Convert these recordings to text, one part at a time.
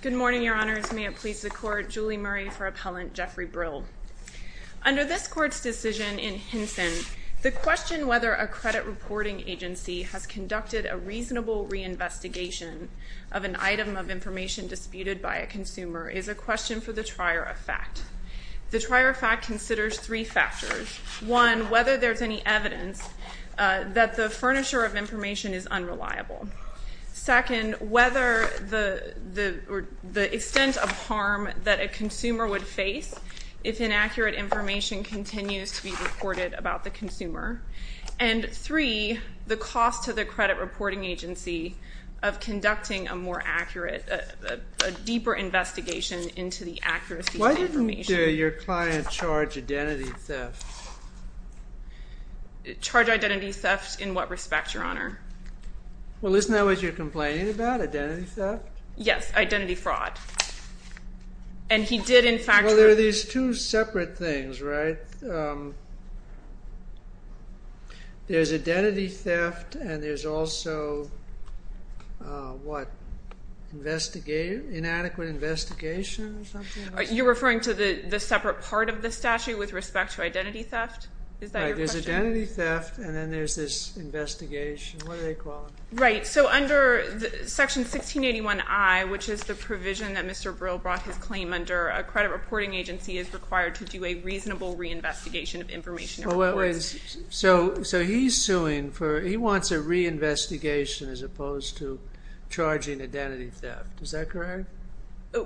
Good morning, your honors. May it please the court, Julie Murray for Appellant Jeffrey Brill. Under this court's decision in Hinson, the question whether a credit reporting agency has conducted a reasonable reinvestigation of an item of information disputed by a consumer is a question for the trier of fact. The trier of fact considers three factors. One, whether there's any evidence that the furniture of information is unreliable. Second, whether the extent of harm that a consumer would face if inaccurate information continues to be reported about the consumer. And three, the cost to the credit reporting agency of conducting a more accurate, a deeper investigation into the accuracy of the information. Why didn't your client charge identity theft? Charge identity theft in what respect, your honor? Isn't that what you're complaining about, identity theft? Yes, identity fraud. And he did in fact... Well, there are these two separate things, right? There's identity theft and there's also, what, inadequate investigation or something? You're referring to the separate part of the statute with respect to identity theft? Is that your question? There's identity What do they call it? Right, so under section 1681I, which is the provision that Mr. Brill brought his claim under, a credit reporting agency is required to do a reasonable reinvestigation of information. So he's suing for, he wants a reinvestigation as opposed to charging identity theft. Is that correct?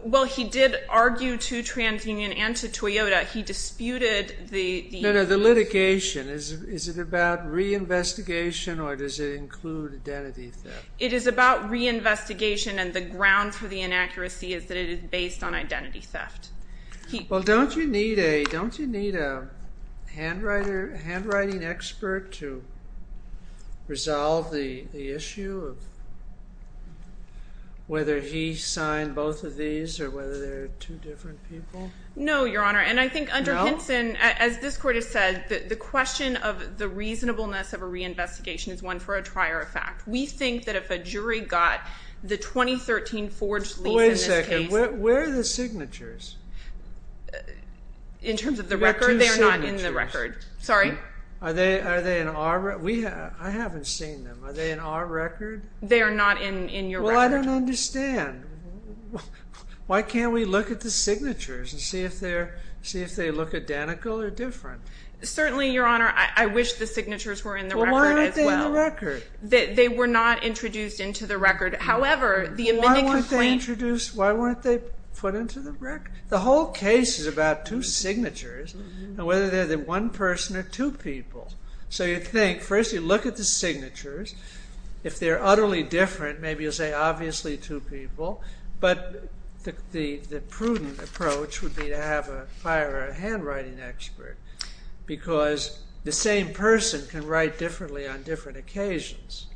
Well, he did argue to TransUnion and to Toyota. He disputed the... Is it about reinvestigation or does it include identity theft? It is about reinvestigation and the ground for the inaccuracy is that it is based on identity theft. Well, don't you need a handwriting expert to resolve the issue of whether he signed both of these or whether they're two different people? No, your honor, and I think under Hinson, as this the question of the reasonableness of a reinvestigation is one for a trier of fact. We think that if a jury got the 2013 forged leaf in this case... Wait a second, where are the signatures? In terms of the record, they're not in the record. Sorry? Are they in our record? I haven't seen them. Are they in our record? They are not in your record. Well, I don't understand. Why can't we look at the signatures and see if they look identical or different? Certainly, your honor, I wish the signatures were in the record as well. Well, why aren't they in the record? They were not introduced into the record. However, the amended complaint... Why weren't they introduced, why weren't they put into the record? The whole case is about two signatures and whether they're one person or two people. So you think, first you look at the signatures. If they're utterly different, maybe you'll say obviously two people, but the prudent approach would be to have a handwriting expert because the same person can write differently on different occasions.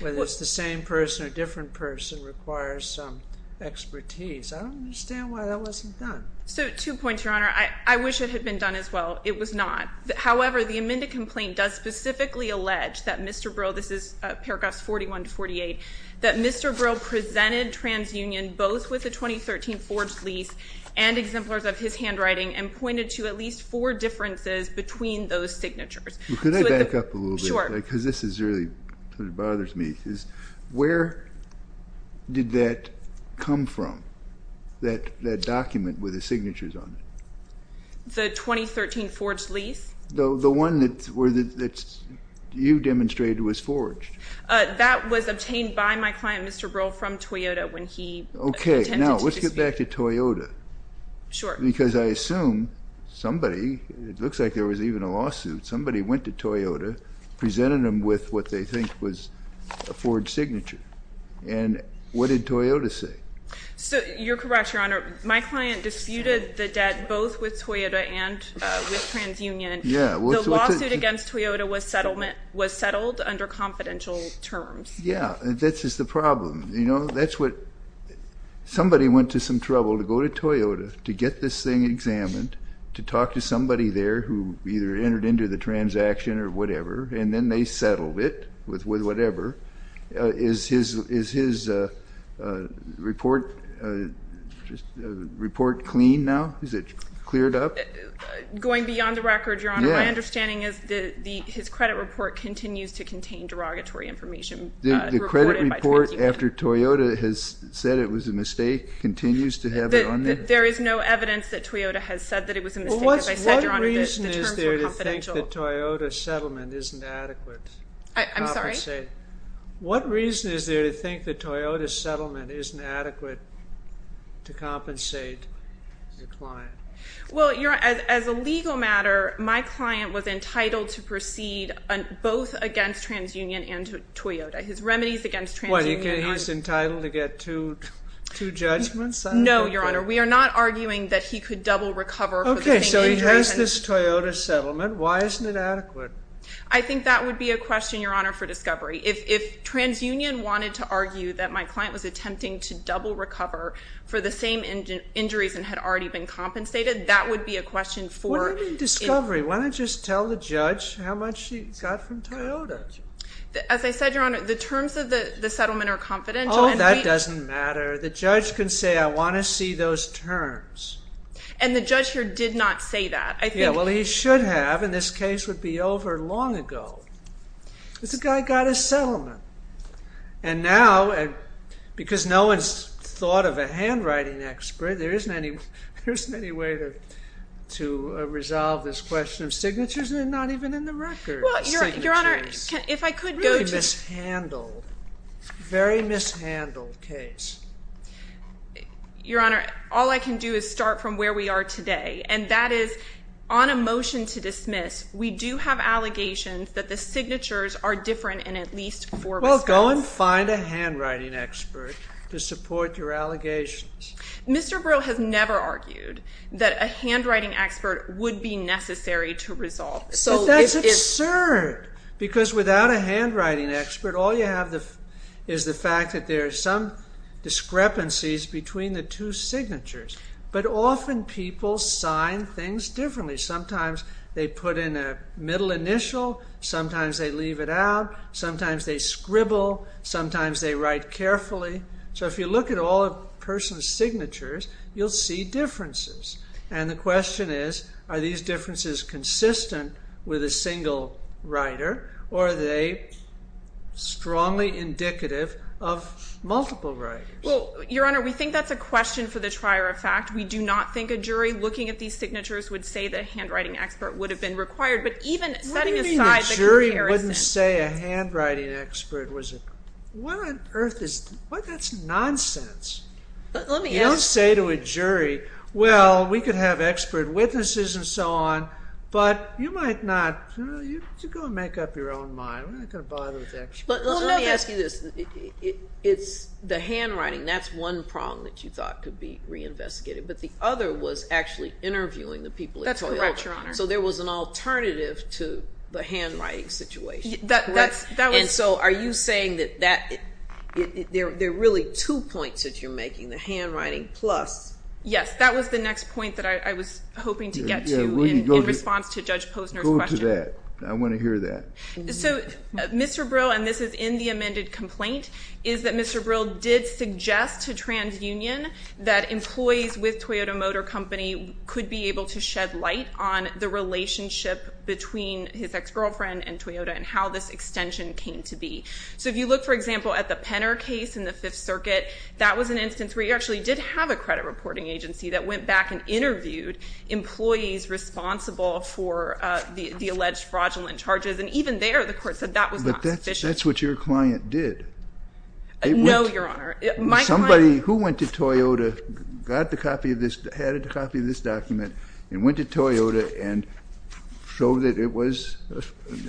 Whether it's the same person or different person requires some expertise. I don't understand why that wasn't done. So, two points, your honor. I wish it had been done as well. It was not. However, the amended complaint does specifically allege that Mr. Brill, this is paragraphs 41-48, that Mr. Brill presented TransUnion both with the 2013 forged lease and exemplars of his handwriting and pointed to at least four differences between those signatures. Could I back up a little bit? Sure. Because this is really, it bothers me. Where did that come from, that document with the signatures on it? The 2013 forged lease? The one that you demonstrated was forged. That was obtained by my client, Mr. Brill, from Toyota when he attended to this meeting. Okay, now let's get back to Toyota. Because I assume somebody, it looks like there was even a lawsuit, somebody went to Toyota, presented them with what they think was a forged signature. And what did Toyota say? You're correct, your honor. My client disputed the debt both with Toyota and with TransUnion. The lawsuit against Toyota was settled under confidential terms. Yeah, this is the problem. Somebody went to some trouble to go to Toyota to get this thing and then they settled it with whatever. Is his report clean now? Is it cleared up? Going beyond the record, your honor, my understanding is that his credit report continues to contain derogatory information. The credit report after Toyota has said it was a mistake continues to have it on there? There is no evidence that Toyota has said that it was a mistake. What reason is there to think that Toyota's settlement isn't adequate? I'm sorry? What reason is there to think that Toyota's settlement isn't adequate to compensate your client? Well, your honor, as a legal matter, my client was entitled to proceed both against TransUnion and Toyota. His remedies against TransUnion... What, he was entitled to get two judgments? No, your honor. We are not arguing that he could double recover for the same... So he has this Toyota settlement. Why isn't it adequate? I think that would be a question, your honor, for discovery. If TransUnion wanted to argue that my client was attempting to double recover for the same injuries and had already been compensated, that would be a question for... What do you mean discovery? Why don't you just tell the judge how much he got from Toyota? As I said, your honor, the terms of the settlement are confidential... Oh, that doesn't matter. The judge can say, I want to see those terms. And the judge here did not say that. Yeah, well, he should have, and this case would be over long ago. This guy got his settlement. And now, because no one's thought of a handwriting expert, there isn't any way to resolve this question of signatures, and they're not even in the record. Well, your honor, if I could go to... Really mishandled. Very mishandled case. Your honor, all I can do is start from where we are today, and that is, on a motion to dismiss, we do have allegations that the signatures are different in at least four respects. Well, go and find a handwriting expert to support your allegations. Mr. Brill has never argued that a handwriting expert would be necessary to resolve this. But that's absurd, because without a handwriting expert, all you have is the fact that there are some discrepancies between the two signatures. But often people sign things differently. Sometimes they put in a middle initial, sometimes they leave it out, sometimes they scribble, sometimes they write carefully. So if you look at all a person's signatures, you'll see differences. And the question is, are these differences consistent with a single writer, or are they strongly indicative of multiple writers? Well, your honor, we think that's a question for the trier of fact. We do not think a jury looking at these signatures would say that a handwriting expert would have been required. But even setting aside the comparison... What do you mean a jury wouldn't say a handwriting expert was a... What on earth is... That's nonsense. Let me ask... You don't say to a jury, well, we could have expert witnesses and so on, but you might not... You go and make up your own mind. We're not going to bother with experts. Let me ask you this. It's the handwriting, that's one prong that you thought could be reinvestigated, but the other was actually interviewing the people at Toyota. That's correct, your honor. So there was an alternative to the handwriting situation. That's correct. And so are you saying that there are really two points that you're making? The handwriting plus... Go to that. I want to hear that. So Mr. Brill, and this is in the amended complaint, is that Mr. Brill did suggest to TransUnion that employees with Toyota Motor Company could be able to shed light on the relationship between his ex-girlfriend and Toyota and how this extension came to be. So if you look, for example, at the Penner case in the Fifth Circuit, that was an instance where you actually did have a credit reporting agency that went back and interviewed employees responsible for the alleged fraudulent charges, and even there the court said that was not sufficient. But that's what your client did. No, your honor. Somebody who went to Toyota, got a copy of this document, and went to Toyota and showed that it was a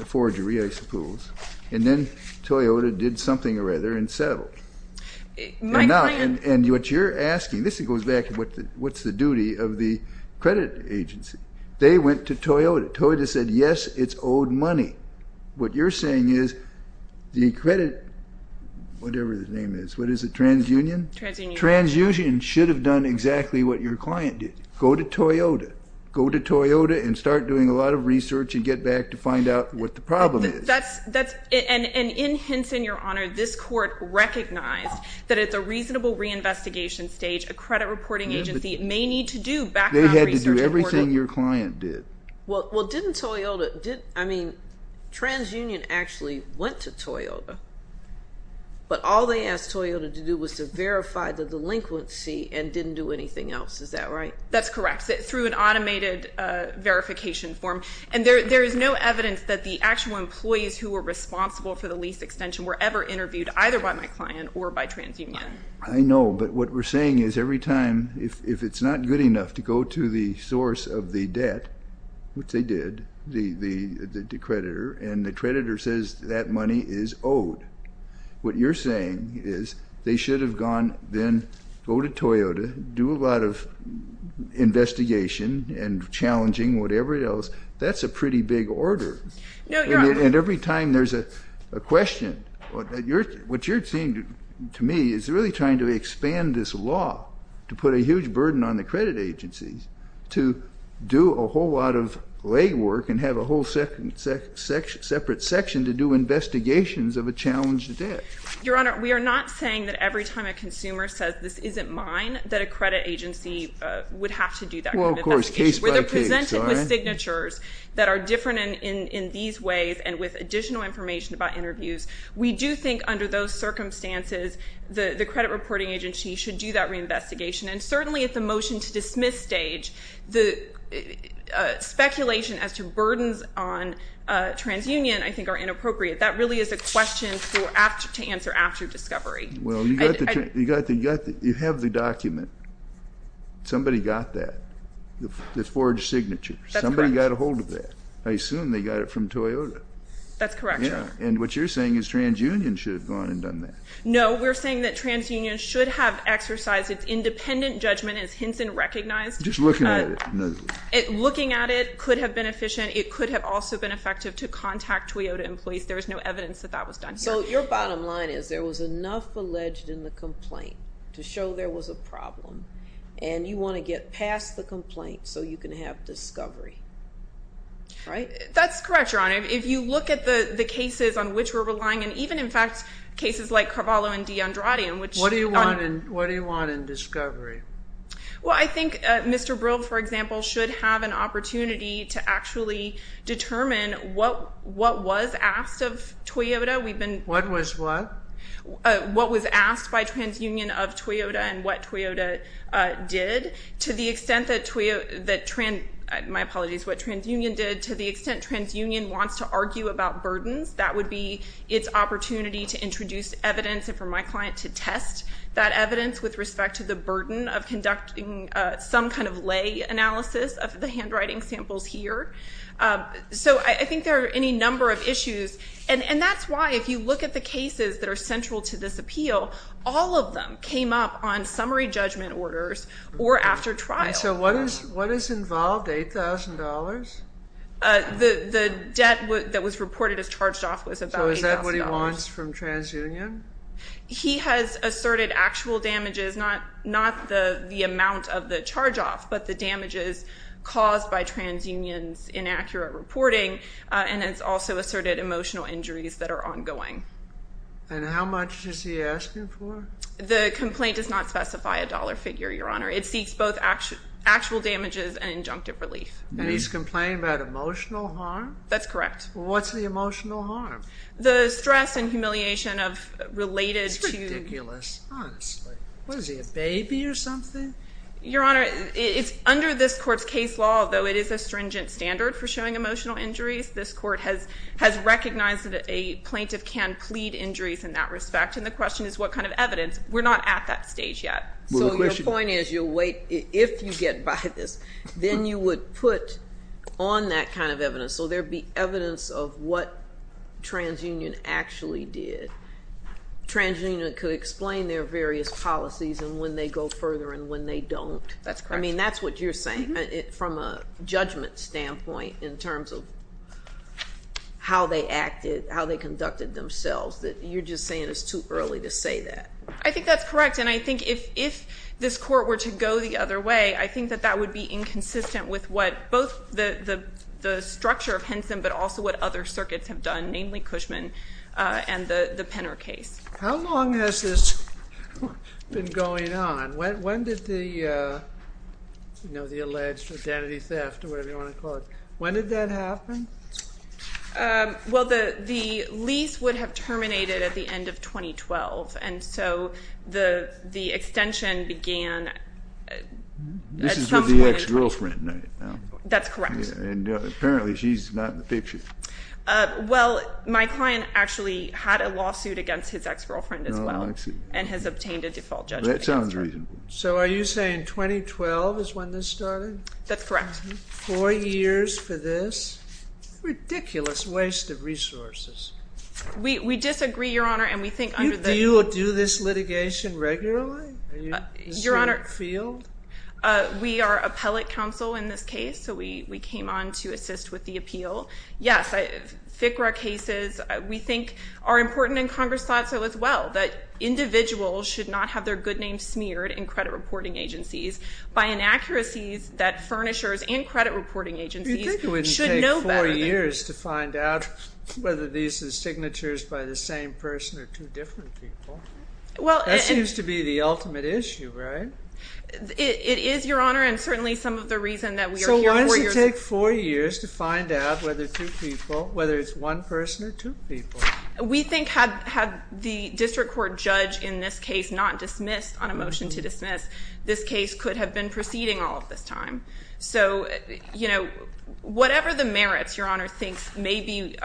forgery, I suppose, and then Toyota did something or other and settled. My client... And what you're asking, this goes back to what's the duty of the credit agency. They went to Toyota. Toyota said, yes, it's owed money. What you're saying is the credit, whatever the name is, what is it, TransUnion? TransUnion. TransUnion should have done exactly what your client did. Go to Toyota. Go to Toyota and start doing a lot of research and get back to find out what the problem is. And in Henson, your honor, this court recognized that it's a reasonable reinvestigation stage. A credit reporting agency may need to do background research. They had to do everything your client did. Well, didn't Toyota, I mean, TransUnion actually went to Toyota, but all they asked Toyota to do was to verify the delinquency and didn't do anything else. Is that right? That's correct, through an automated verification form. And there is no evidence that the actual employees who were responsible for the lease extension were ever interviewed either by my client or by TransUnion. I know, but what we're saying is every time, if it's not good enough to go to the source of the debt, which they did, the creditor, and the creditor says that money is owed, what you're saying is they should have gone then go to Toyota, do a lot of investigation and challenging whatever else. That's a pretty big order. And every time there's a question, what you're saying to me is really trying to expand this law to put a huge burden on the credit agencies to do a whole lot of legwork and have a whole separate section to do investigations of a challenged debt. Your Honor, we are not saying that every time a consumer says, this isn't mine, that a credit agency would have to do that kind of investigation. Well, of course, case by case. Where they're presented with signatures that are different in these ways and with additional information about interviews, we do think under those circumstances the credit reporting agency should do that reinvestigation. And certainly at the motion to dismiss stage, the speculation as to burdens on TransUnion I think are inappropriate. That really is a question to answer after discovery. Well, you have the document. Somebody got that, the forged signature. That's correct. Somebody got a hold of that. I assume they got it from Toyota. That's correct, Your Honor. And what you're saying is TransUnion should have gone and done that. No, we're saying that TransUnion should have exercised its independent judgment as Hinson recognized. Just looking at it. Looking at it could have been efficient. It could have also been effective to contact Toyota employees. There is no evidence that that was done. So your bottom line is there was enough alleged in the complaint to show there was a problem, and you want to get past the complaint so you can have discovery, right? That's correct, Your Honor. If you look at the cases on which we're relying, and even, in fact, cases like Carvalho and DeAndrade. What do you want in discovery? Well, I think Mr. Brill, for example, should have an opportunity to actually determine what was asked of Toyota. What was what? What was asked by TransUnion of Toyota and what Toyota did. To the extent that, my apologies, what TransUnion did, to the extent TransUnion wants to argue about burdens, that would be its opportunity to introduce evidence and for my client to test that evidence with respect to the burden of conducting some kind of lay analysis of the handwriting samples here. So I think there are any number of issues. And that's why, if you look at the cases that are central to this appeal, all of them came up on summary judgment orders or after trial. So what is involved, $8,000? The debt that was reported as charged off was about $8,000. So is that what he wants from TransUnion? He has asserted actual damages, not the amount of the charge off, but the damages caused by TransUnion's inaccurate reporting. And it's also asserted emotional injuries that are ongoing. And how much is he asking for? The complaint does not specify a dollar figure, Your Honor. It seeks both actual damages and injunctive relief. And he's complaining about emotional harm? That's correct. Well, what's the emotional harm? The stress and humiliation of related to- It's ridiculous, honestly. What is he, a baby or something? Your Honor, it's under this court's case law, though it is a stringent standard for showing emotional injuries. This court has recognized that a plaintiff can plead injuries in that respect, and the question is what kind of evidence. We're not at that stage yet. So your point is if you get by this, then you would put on that kind of evidence so there would be evidence of what TransUnion actually did. TransUnion could explain their various policies and when they go further and when they don't. That's correct. I mean, that's what you're saying from a judgment standpoint in terms of how they acted, how they conducted themselves, that you're just saying it's too early to say that. I think that's correct. And I think if this court were to go the other way, I think that that would be inconsistent with both the structure of Henson but also what other circuits have done, namely Cushman and the Penner case. How long has this been going on? When did the alleged identity theft or whatever you want to call it, when did that happen? Well, the lease would have terminated at the end of 2012. And so the extension began at some point in time. This is with the ex-girlfriend, right? That's correct. And apparently she's not in the picture. Well, my client actually had a lawsuit against his ex-girlfriend as well and has obtained a default judgment against her. That sounds reasonable. So are you saying 2012 is when this started? That's correct. Four years for this. Ridiculous waste of resources. We disagree, Your Honor, and we think under the Do you do this litigation regularly? Your Honor, we are appellate counsel in this case, so we came on to assist with the appeal. Yes, FCRA cases we think are important in Congress thought so as well, that individuals should not have their good names smeared in credit reporting agencies by inaccuracies that furnishers and credit reporting agencies should know better. You think it wouldn't take four years to find out whether these are signatures by the same person or two different people? That seems to be the ultimate issue, right? It is, Your Honor, and certainly some of the reason that we are here. So why does it take four years to find out whether two people, whether it's one person or two people? We think had the district court judge in this case not dismissed on a motion to dismiss, this case could have been proceeding all of this time. So, you know, whatever the merits Your Honor thinks may be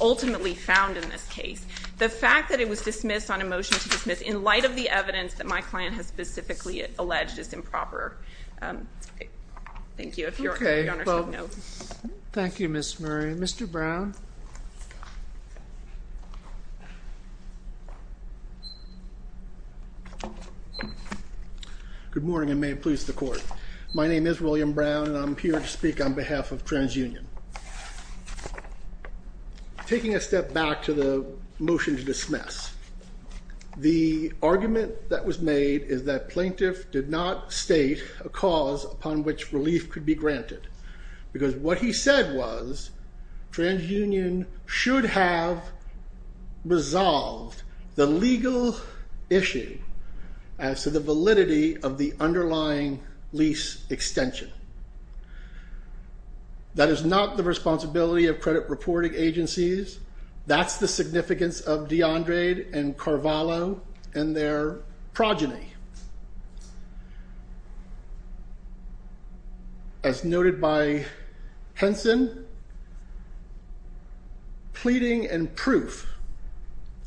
ultimately found in this case, the fact that it was dismissed on a motion to dismiss in light of the evidence that my client has specifically alleged is improper. Thank you. Okay, well, thank you, Ms. Murray. Mr. Brown? Good morning, and may it please the Court. My name is William Brown, and I'm here to speak on behalf of TransUnion. Taking a step back to the motion to dismiss, the argument that was made is that plaintiff did not state a cause upon which relief could be granted because what he said was TransUnion should have resolved the legal issue as to the validity of the underlying lease extension. That is not the responsibility of credit reporting agencies. That's the significance of DeAndre and Carvalho and their progeny. As noted by Henson, pleading and proof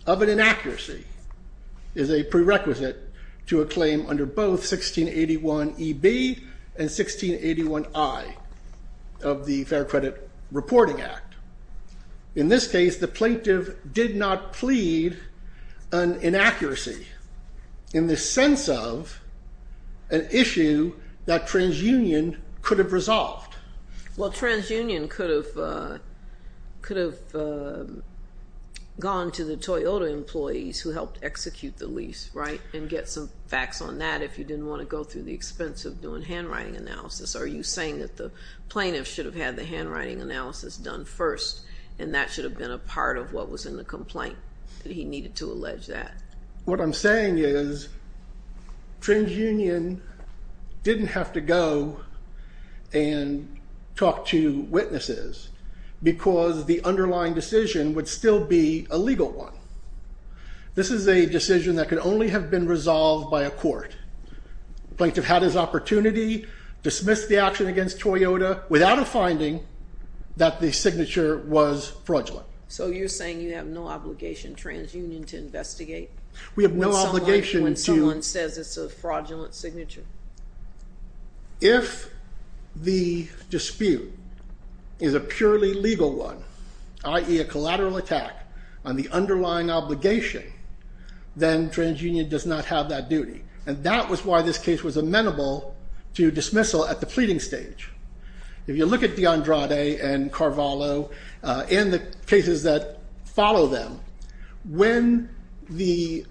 of an inaccuracy is a prerequisite to a claim under both 1681EB and 1681I of the Fair Credit Reporting Act. In this case, the plaintiff did not plead an inaccuracy in the sense of an issue that TransUnion could have resolved. Well, TransUnion could have gone to the Toyota employees who helped execute the lease, right, and get some facts on that if you didn't want to go through the expense of doing handwriting analysis. Are you saying that the plaintiff should have had the handwriting analysis done first, and that should have been a part of what was in the complaint? He needed to allege that. What I'm saying is TransUnion didn't have to go and talk to witnesses because the underlying decision would still be a legal one. This is a decision that could only have been resolved by a court. The plaintiff had his opportunity, dismissed the action against Toyota without a finding that the signature was fraudulent. So you're saying you have no obligation, TransUnion, to investigate when someone says it's a fraudulent signature? If the dispute is a purely legal one, i.e. a collateral attack on the underlying obligation, then TransUnion does not have that duty, and that was why this case was amenable to dismissal at the pleading stage. If you look at DeAndrade and Carvalho and the cases that follow them, when the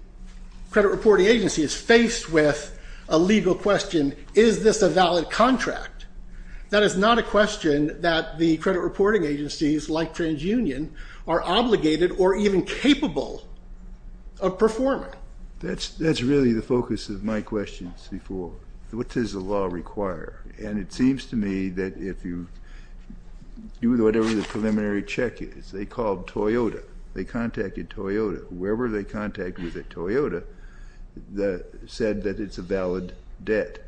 credit reporting agency is faced with a legal question, is this a valid contract? That is not a question that the credit reporting agencies like TransUnion are obligated or even capable of performing. That's really the focus of my questions before. What does the law require? And it seems to me that if you do whatever the preliminary check is, they called Toyota, they contacted Toyota, whoever they contact with at Toyota said that it's a valid debt.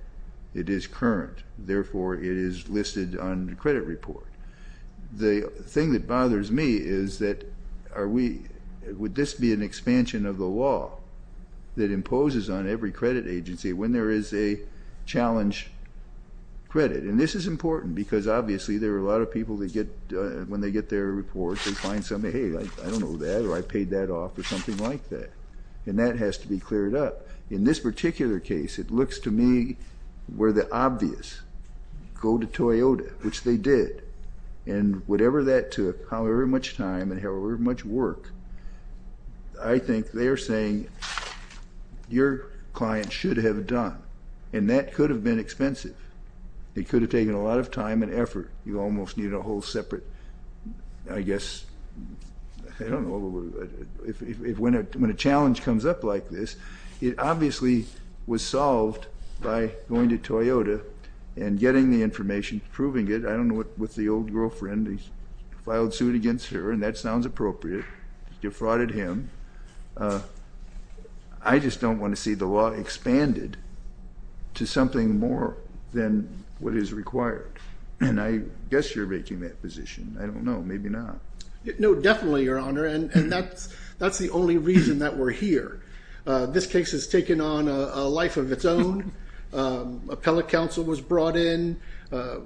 It is current, therefore it is listed on the credit report. The thing that bothers me is that would this be an expansion of the law that imposes on every credit agency when there is a challenge credit? And this is important because obviously there are a lot of people when they get their report, they find something, hey, I don't know that or I paid that off or something like that, and that has to be cleared up. In this particular case, it looks to me where the obvious, go to Toyota, which they did, and whatever that took, however much time and however much work, I think they are saying your client should have done, and that could have been expensive. It could have taken a lot of time and effort. You almost needed a whole separate, I guess, I don't know, when a challenge comes up like this, it obviously was solved by going to Toyota and getting the information, proving it. I don't know what the old girlfriend, he filed suit against her, and that sounds appropriate, defrauded him. I just don't want to see the law expanded to something more than what is required. And I guess you're making that position. I don't know, maybe not. No, definitely, Your Honor, and that's the only reason that we're here. This case has taken on a life of its own. Appellate counsel was brought in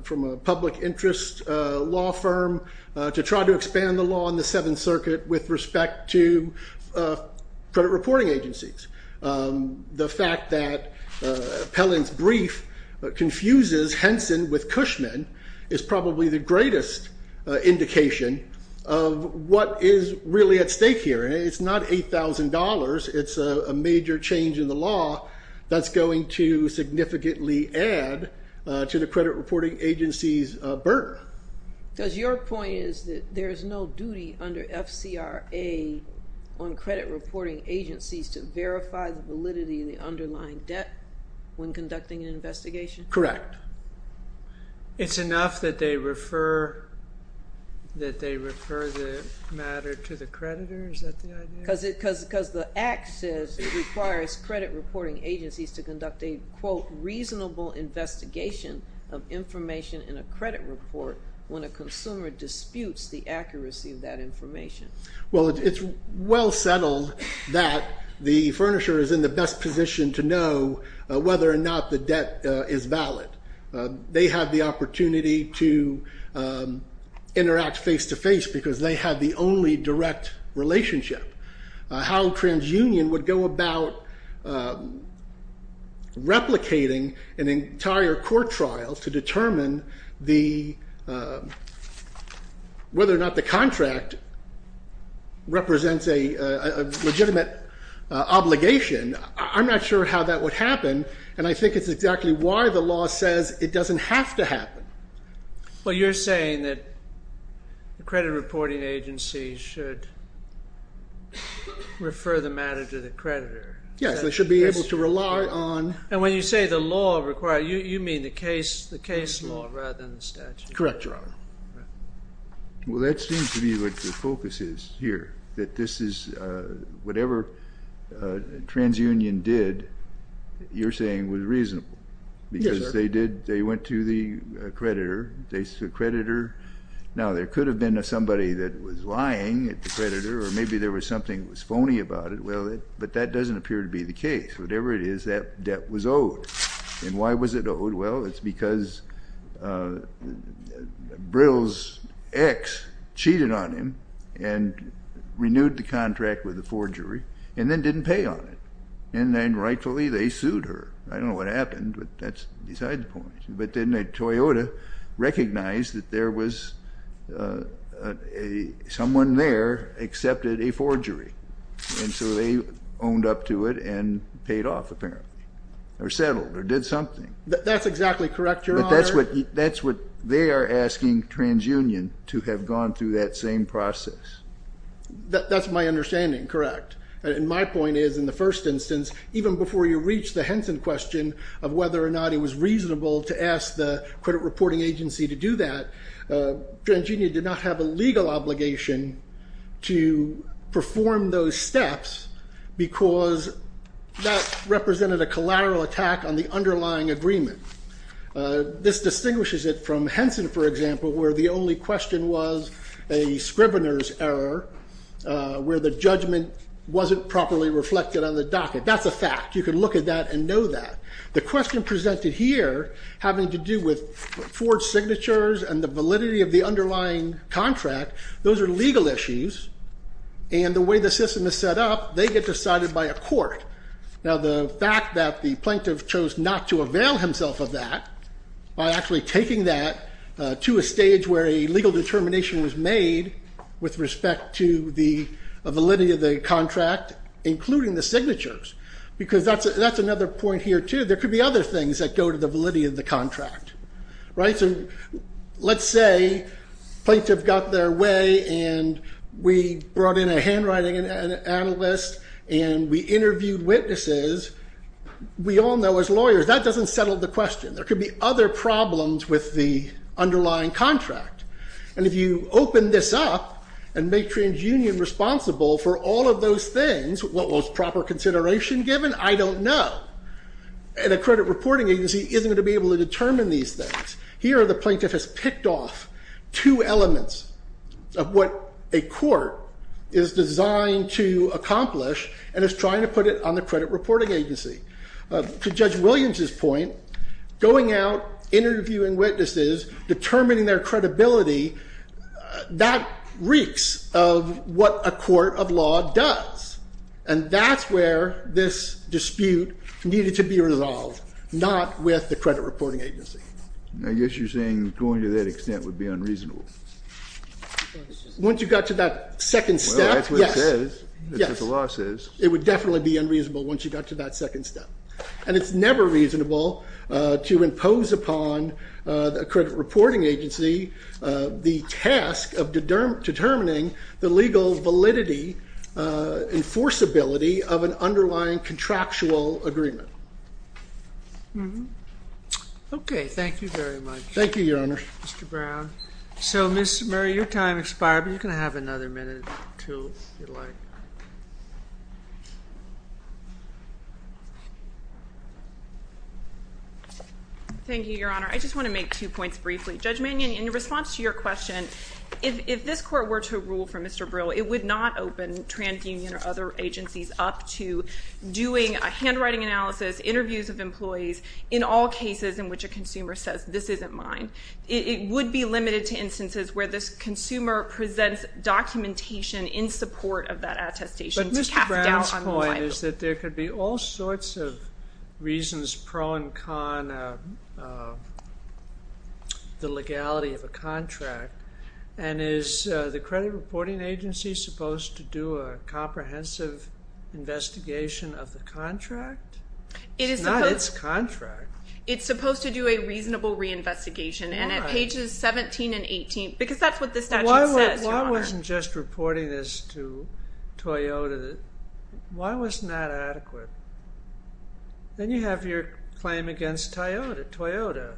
from a public interest law firm to try to expand the law in the Seventh Circuit with respect to credit reporting agencies. The fact that Appellant's brief confuses Henson with Cushman is probably the greatest indication of what is really at stake here. It's not $8,000. It's a major change in the law that's going to significantly add to the credit reporting agency's burden. Does your point is that there is no duty under FCRA on credit reporting agencies to verify the validity of the underlying debt when conducting an investigation? Correct. It's enough that they refer the matter to the creditor? Is that the idea? Because the Act says it requires credit reporting agencies to conduct a, quote, information in a credit report when a consumer disputes the accuracy of that information. Well, it's well settled that the furnisher is in the best position to know whether or not the debt is valid. They have the opportunity to interact face-to-face because they have the only direct relationship. How TransUnion would go about replicating an entire court trial to determine whether or not the contract represents a legitimate obligation, I'm not sure how that would happen, and I think it's exactly why the law says it doesn't have to happen. Well, you're saying that credit reporting agencies should refer the matter to the creditor. Yes, they should be able to rely on... And when you say the law requires, you mean the case law rather than the statute law. Correct, Your Honor. Well, that seems to be what the focus is here, that this is whatever TransUnion did, you're saying was reasonable. Yes, sir. Because they went to the creditor. Now, there could have been somebody that was lying at the creditor or maybe there was something that was phony about it, but that doesn't appear to be the case. Whatever it is, that debt was owed. And why was it owed? Well, it's because Brill's ex cheated on him and renewed the contract with the forgery and then didn't pay on it, and then rightfully they sued her. I don't know what happened, but that's beside the point. But then Toyota recognized that there was someone there accepted a forgery, and so they owned up to it and paid off apparently or settled or did something. That's exactly correct, Your Honor. But that's what they are asking TransUnion to have gone through that same process. That's my understanding, correct. And my point is, in the first instance, even before you reach the Henson question of whether or not it was reasonable to ask the credit reporting agency to do that, TransUnion did not have a legal obligation to perform those steps because that represented a collateral attack on the underlying agreement. This distinguishes it from Henson, for example, where the only question was a scrivener's error where the judgment wasn't properly reflected on the docket. That's a fact. You can look at that and know that. The question presented here, having to do with forged signatures and the validity of the underlying contract, those are legal issues. And the way the system is set up, they get decided by a court. Now, the fact that the plaintiff chose not to avail himself of that by actually taking that to a stage where a legal determination was made with respect to the validity of the contract, including the signatures, because that's another point here, too. There could be other things that go to the validity of the contract. Let's say the plaintiff got their way and we brought in a handwriting analyst and we interviewed witnesses. We all know, as lawyers, that doesn't settle the question. There could be other problems with the underlying contract. And if you open this up and make TransUnion responsible for all of those things, what was proper consideration given? I don't know. And a credit reporting agency isn't going to be able to determine these things. Here, the plaintiff has picked off two elements of what a court is designed to accomplish and is trying to put it on the credit reporting agency. To Judge Williams's point, going out, interviewing witnesses, determining their credibility, that reeks of what a court of law does. And that's where this dispute needed to be resolved, not with the credit reporting agency. I guess you're saying going to that extent would be unreasonable. Once you got to that second step, yes. Well, that's what it says. That's what the law says. It would definitely be unreasonable once you got to that second step. And it's never reasonable to impose upon a credit reporting agency the task of determining the legal validity, enforceability of an underlying contractual agreement. Mm-hmm. Okay, thank you very much. Thank you, Your Honor. Mr. Brown. So, Ms. Murray, your time expired, but you can have another minute, too, if you'd like. Thank you, Your Honor. I just want to make two points briefly. Judge Mannion, in response to your question, if this court were to rule for Mr. Brill, it would not open TransUnion or other agencies up to doing a handwriting analysis, interviews of employees, in all cases in which a consumer says, this isn't mine. It would be limited to instances where this consumer presents documentation in support of that attestation to cast doubt on the liability. But Mr. Brown's point is that there could be all sorts of reasons, pro and con, the legality of a contract. And is the credit reporting agency supposed to do a comprehensive investigation of the contract? It's not its contract. It's supposed to do a reasonable reinvestigation. And at pages 17 and 18, because that's what the statute says, Your Honor. Why wasn't just reporting this to Toyota? Why wasn't that adequate? Then you have your claim against Toyota. Toyota.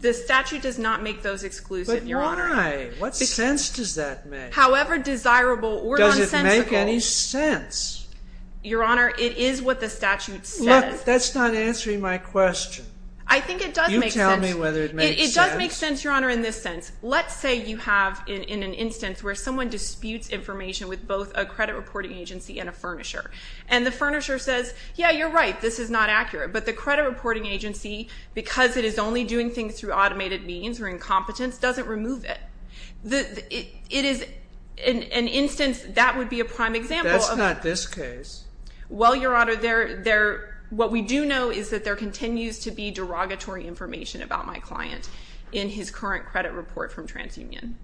The statute does not make those exclusive, Your Honor. But why? What sense does that make? However desirable or nonsensical. Does it make any sense? Your Honor, it is what the statute says. Look, that's not answering my question. I think it does make sense. You tell me whether it makes sense. It does make sense, Your Honor, in this sense. Let's say you have in an instance where someone disputes information with both a credit reporting agency and a furnisher. And the furnisher says, Yeah, you're right. This is not accurate. But the credit reporting agency, because it is only doing things through automated means or incompetence, doesn't remove it. It is an instance that would be a prime example. That's not this case. Well, Your Honor, what we do know is that there continues to be derogatory information about my client in his current credit report from TransUnion.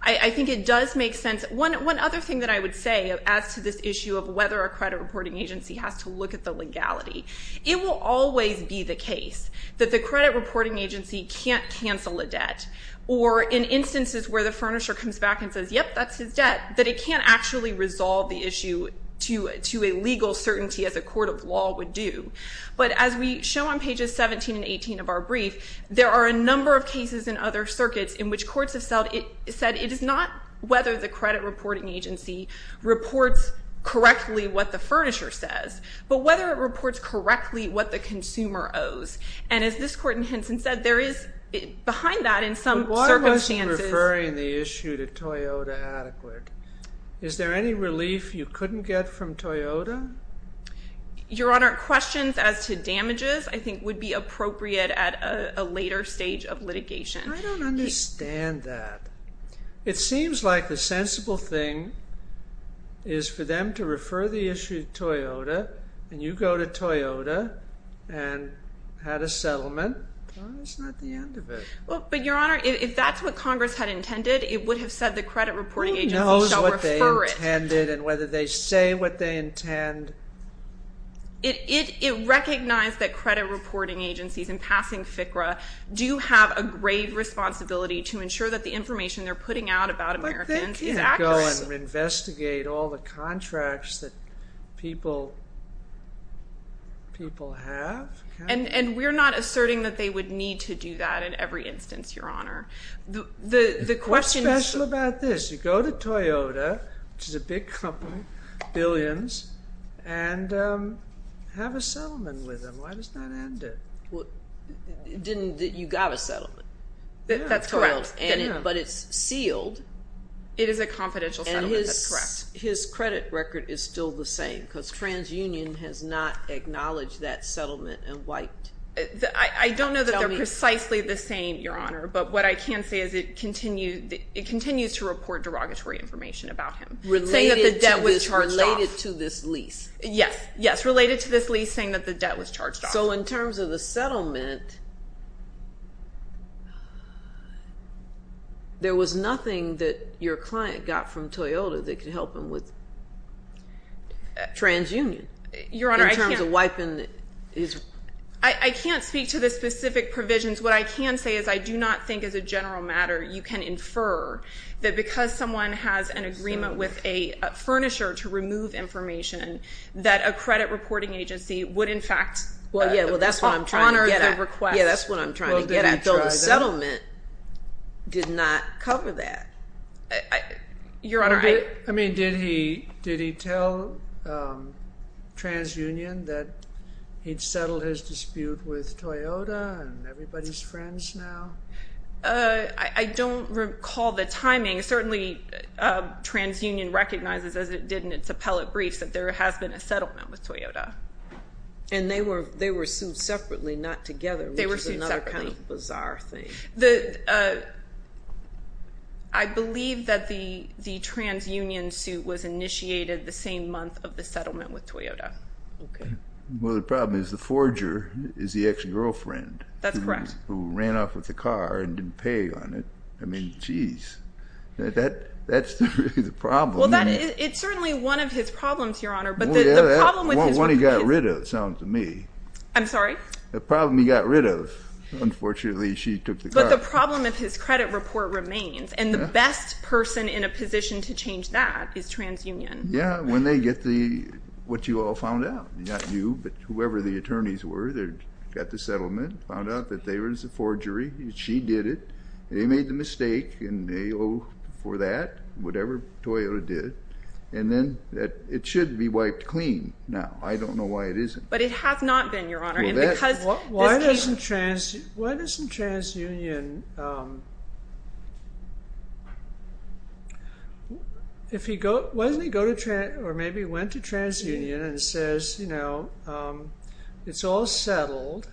I think it does make sense. One other thing that I would say as to this issue of whether a credit reporting agency has to look at the legality. It will always be the case that the credit reporting agency can't cancel a debt. Or in instances where the furnisher comes back and says, Yep, that's his debt. That it can't actually resolve the issue to a legal certainty as a court of law would do. But as we show on pages 17 and 18 of our brief, there are a number of cases in other circuits in which courts have said it is not whether the credit reporting agency reports correctly what the furnisher says, but whether it reports correctly what the consumer owes. And as this court in Henson said, there is behind that in some circumstances. But why are most referring the issue to Toyota adequate? Is there any relief you couldn't get from Toyota? Your Honor, questions as to damages I think would be appropriate at a later stage of litigation. I don't understand that. It seems like the sensible thing is for them to refer the issue to Toyota, and you go to Toyota and had a settlement. It's not the end of it. But Your Honor, if that's what Congress had intended, it would have said the credit reporting agency shall refer it. Who knows what they intended and whether they say what they intend. It recognized that credit reporting agencies in passing FCRA do have a grave responsibility to ensure that the information they're putting out about Americans is accurate. But they can't go and investigate all the contracts that people have. And we're not asserting that they would need to do that in every instance, Your Honor. What's special about this? You go to Toyota, which is a big company, billions, and have a settlement with them. Why does that end it? You got a settlement. That's correct. But it's sealed. It is a confidential settlement. That's correct. And his credit record is still the same because TransUnion has not acknowledged that settlement and wiped. I don't know that they're precisely the same, Your Honor, but what I can say is it continues to report derogatory information about him. Related to this lease. Yes. Related to this lease saying that the debt was charged off. So in terms of the settlement, there was nothing that your client got from Toyota that could help him with TransUnion in terms of wiping his... I can't speak to the specific provisions. What I can say is I do not think as a general matter you can infer that because someone has an agreement with a furnisher to remove information honor the request. Well, yeah, that's what I'm trying to get at. Yeah, that's what I'm trying to get at. The settlement did not cover that. Your Honor, I... I mean, did he tell TransUnion that he'd settled his dispute with Toyota and everybody's friends now? I don't recall the timing. Certainly, TransUnion recognizes as it did in its appellate briefs that there has been a settlement with Toyota. And they were sued separately, not together, which is another kind of bizarre thing. I believe that the TransUnion suit was initiated the same month of the settlement with Toyota. Okay. Well, the problem is the forger is the ex-girlfriend. That's correct. Who ran off with the car and didn't pay on it. I mean, geez. That's the problem. Well, it's certainly one of his problems, Your Honor. But the problem with his... The one he got rid of, it sounds to me. I'm sorry? The problem he got rid of. Unfortunately, she took the car. But the problem of his credit report remains. And the best person in a position to change that is TransUnion. Yeah, when they get the... what you all found out. Not you, but whoever the attorneys were that got the settlement. Found out that they were in some forgery. She did it. They made the mistake. And they owe for that. Whatever Toyota did. And then, it should be wiped clean now. I don't know why it isn't. But it has not been, Your Honor. And because... Why doesn't TransUnion... Why doesn't he go to... or maybe went to TransUnion and says, you know, it's all settled.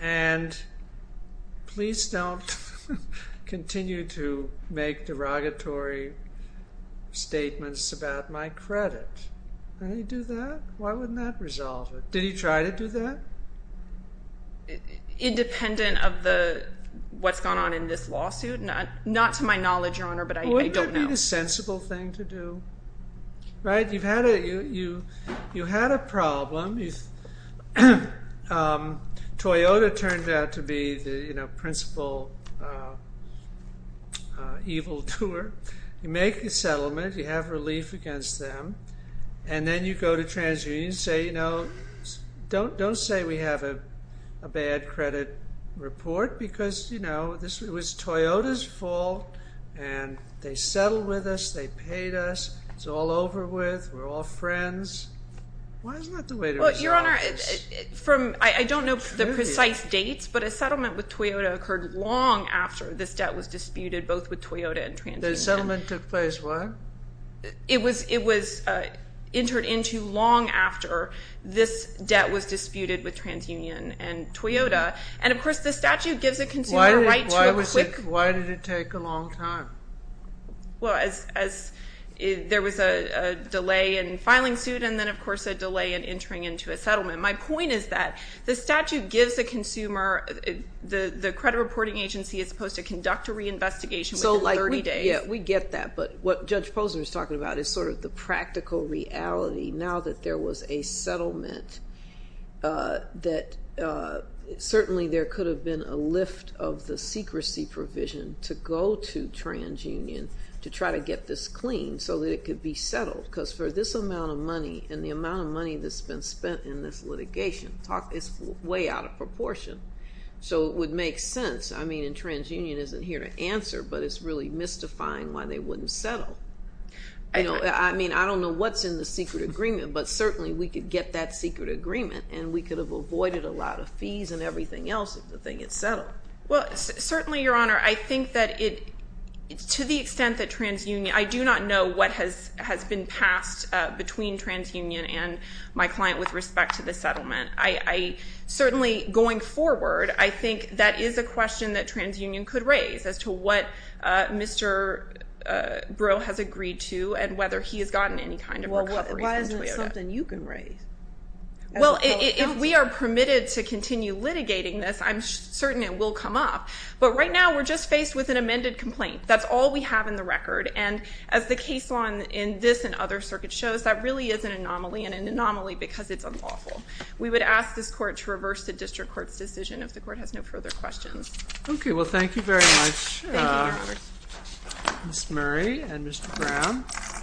And please don't continue to make derogatory statements about my credit. Would he do that? Why wouldn't that resolve it? Did he try to do that? Independent of the... what's gone on in this lawsuit? Not to my knowledge, Your Honor, but I don't know. Wouldn't it be the sensible thing to do? Right? You had a problem. Toyota turned out to be the principal evil doer. You make a settlement. You have relief against them. And then you go to TransUnion and say, you know, don't say we have a bad credit report because, you know, it was Toyota's fault. And they settled with us. They paid us. It's all over with. We're all friends. Why is that the way to resolve this? Well, Your Honor, from... I don't know the precise dates, but a settlement with Toyota occurred long after this debt was disputed both with Toyota and TransUnion. The settlement took place when? It was entered into long after this debt was disputed with TransUnion and Toyota. And, of course, the statute gives a consumer right to a quick... Why did it take a long time? Well, there was a delay in filing suit and then, of course, a delay in entering into a settlement. My point is that the statute gives a consumer... The credit reporting agency is supposed to conduct a reinvestigation within 30 days. Yeah, we get that. But what Judge Posner is talking about is sort of the practical reality. Now that there was a settlement that certainly there could have been a lift of the secrecy provision to go to TransUnion to try to get this clean so that it could be settled. Because for this amount of money and the amount of money that's been spent in this litigation, it's way out of proportion. So it would make sense. I mean, and TransUnion isn't here to answer, but it's really mystifying why they wouldn't settle. I mean, I don't know what's in the secret agreement, but certainly we could get that secret agreement and we could have avoided a lot of fees and everything else if the thing had settled. Well, certainly, Your Honor, I think that to the extent that TransUnion, I do not know what has been passed between TransUnion and my client with respect to the settlement. Certainly, going forward, I think that is a question that TransUnion could raise as to what Mr. Breaux has agreed to and whether he has gotten any kind of recovery. Well, why isn't it something you can raise? Well, if we are permitted to continue litigating this, I'm certain it will come up. But right now, we're just faced with an amended complaint. That's all we have in the record. And as the case law in this and other circuits shows, that really is an anomaly and an anomaly because it's unlawful. We would ask this court to reverse the district court's decision if the court has no further questions. Okay, well, thank you very much. Thank you, Your Honor. Ms. Murray and Mr. Brown.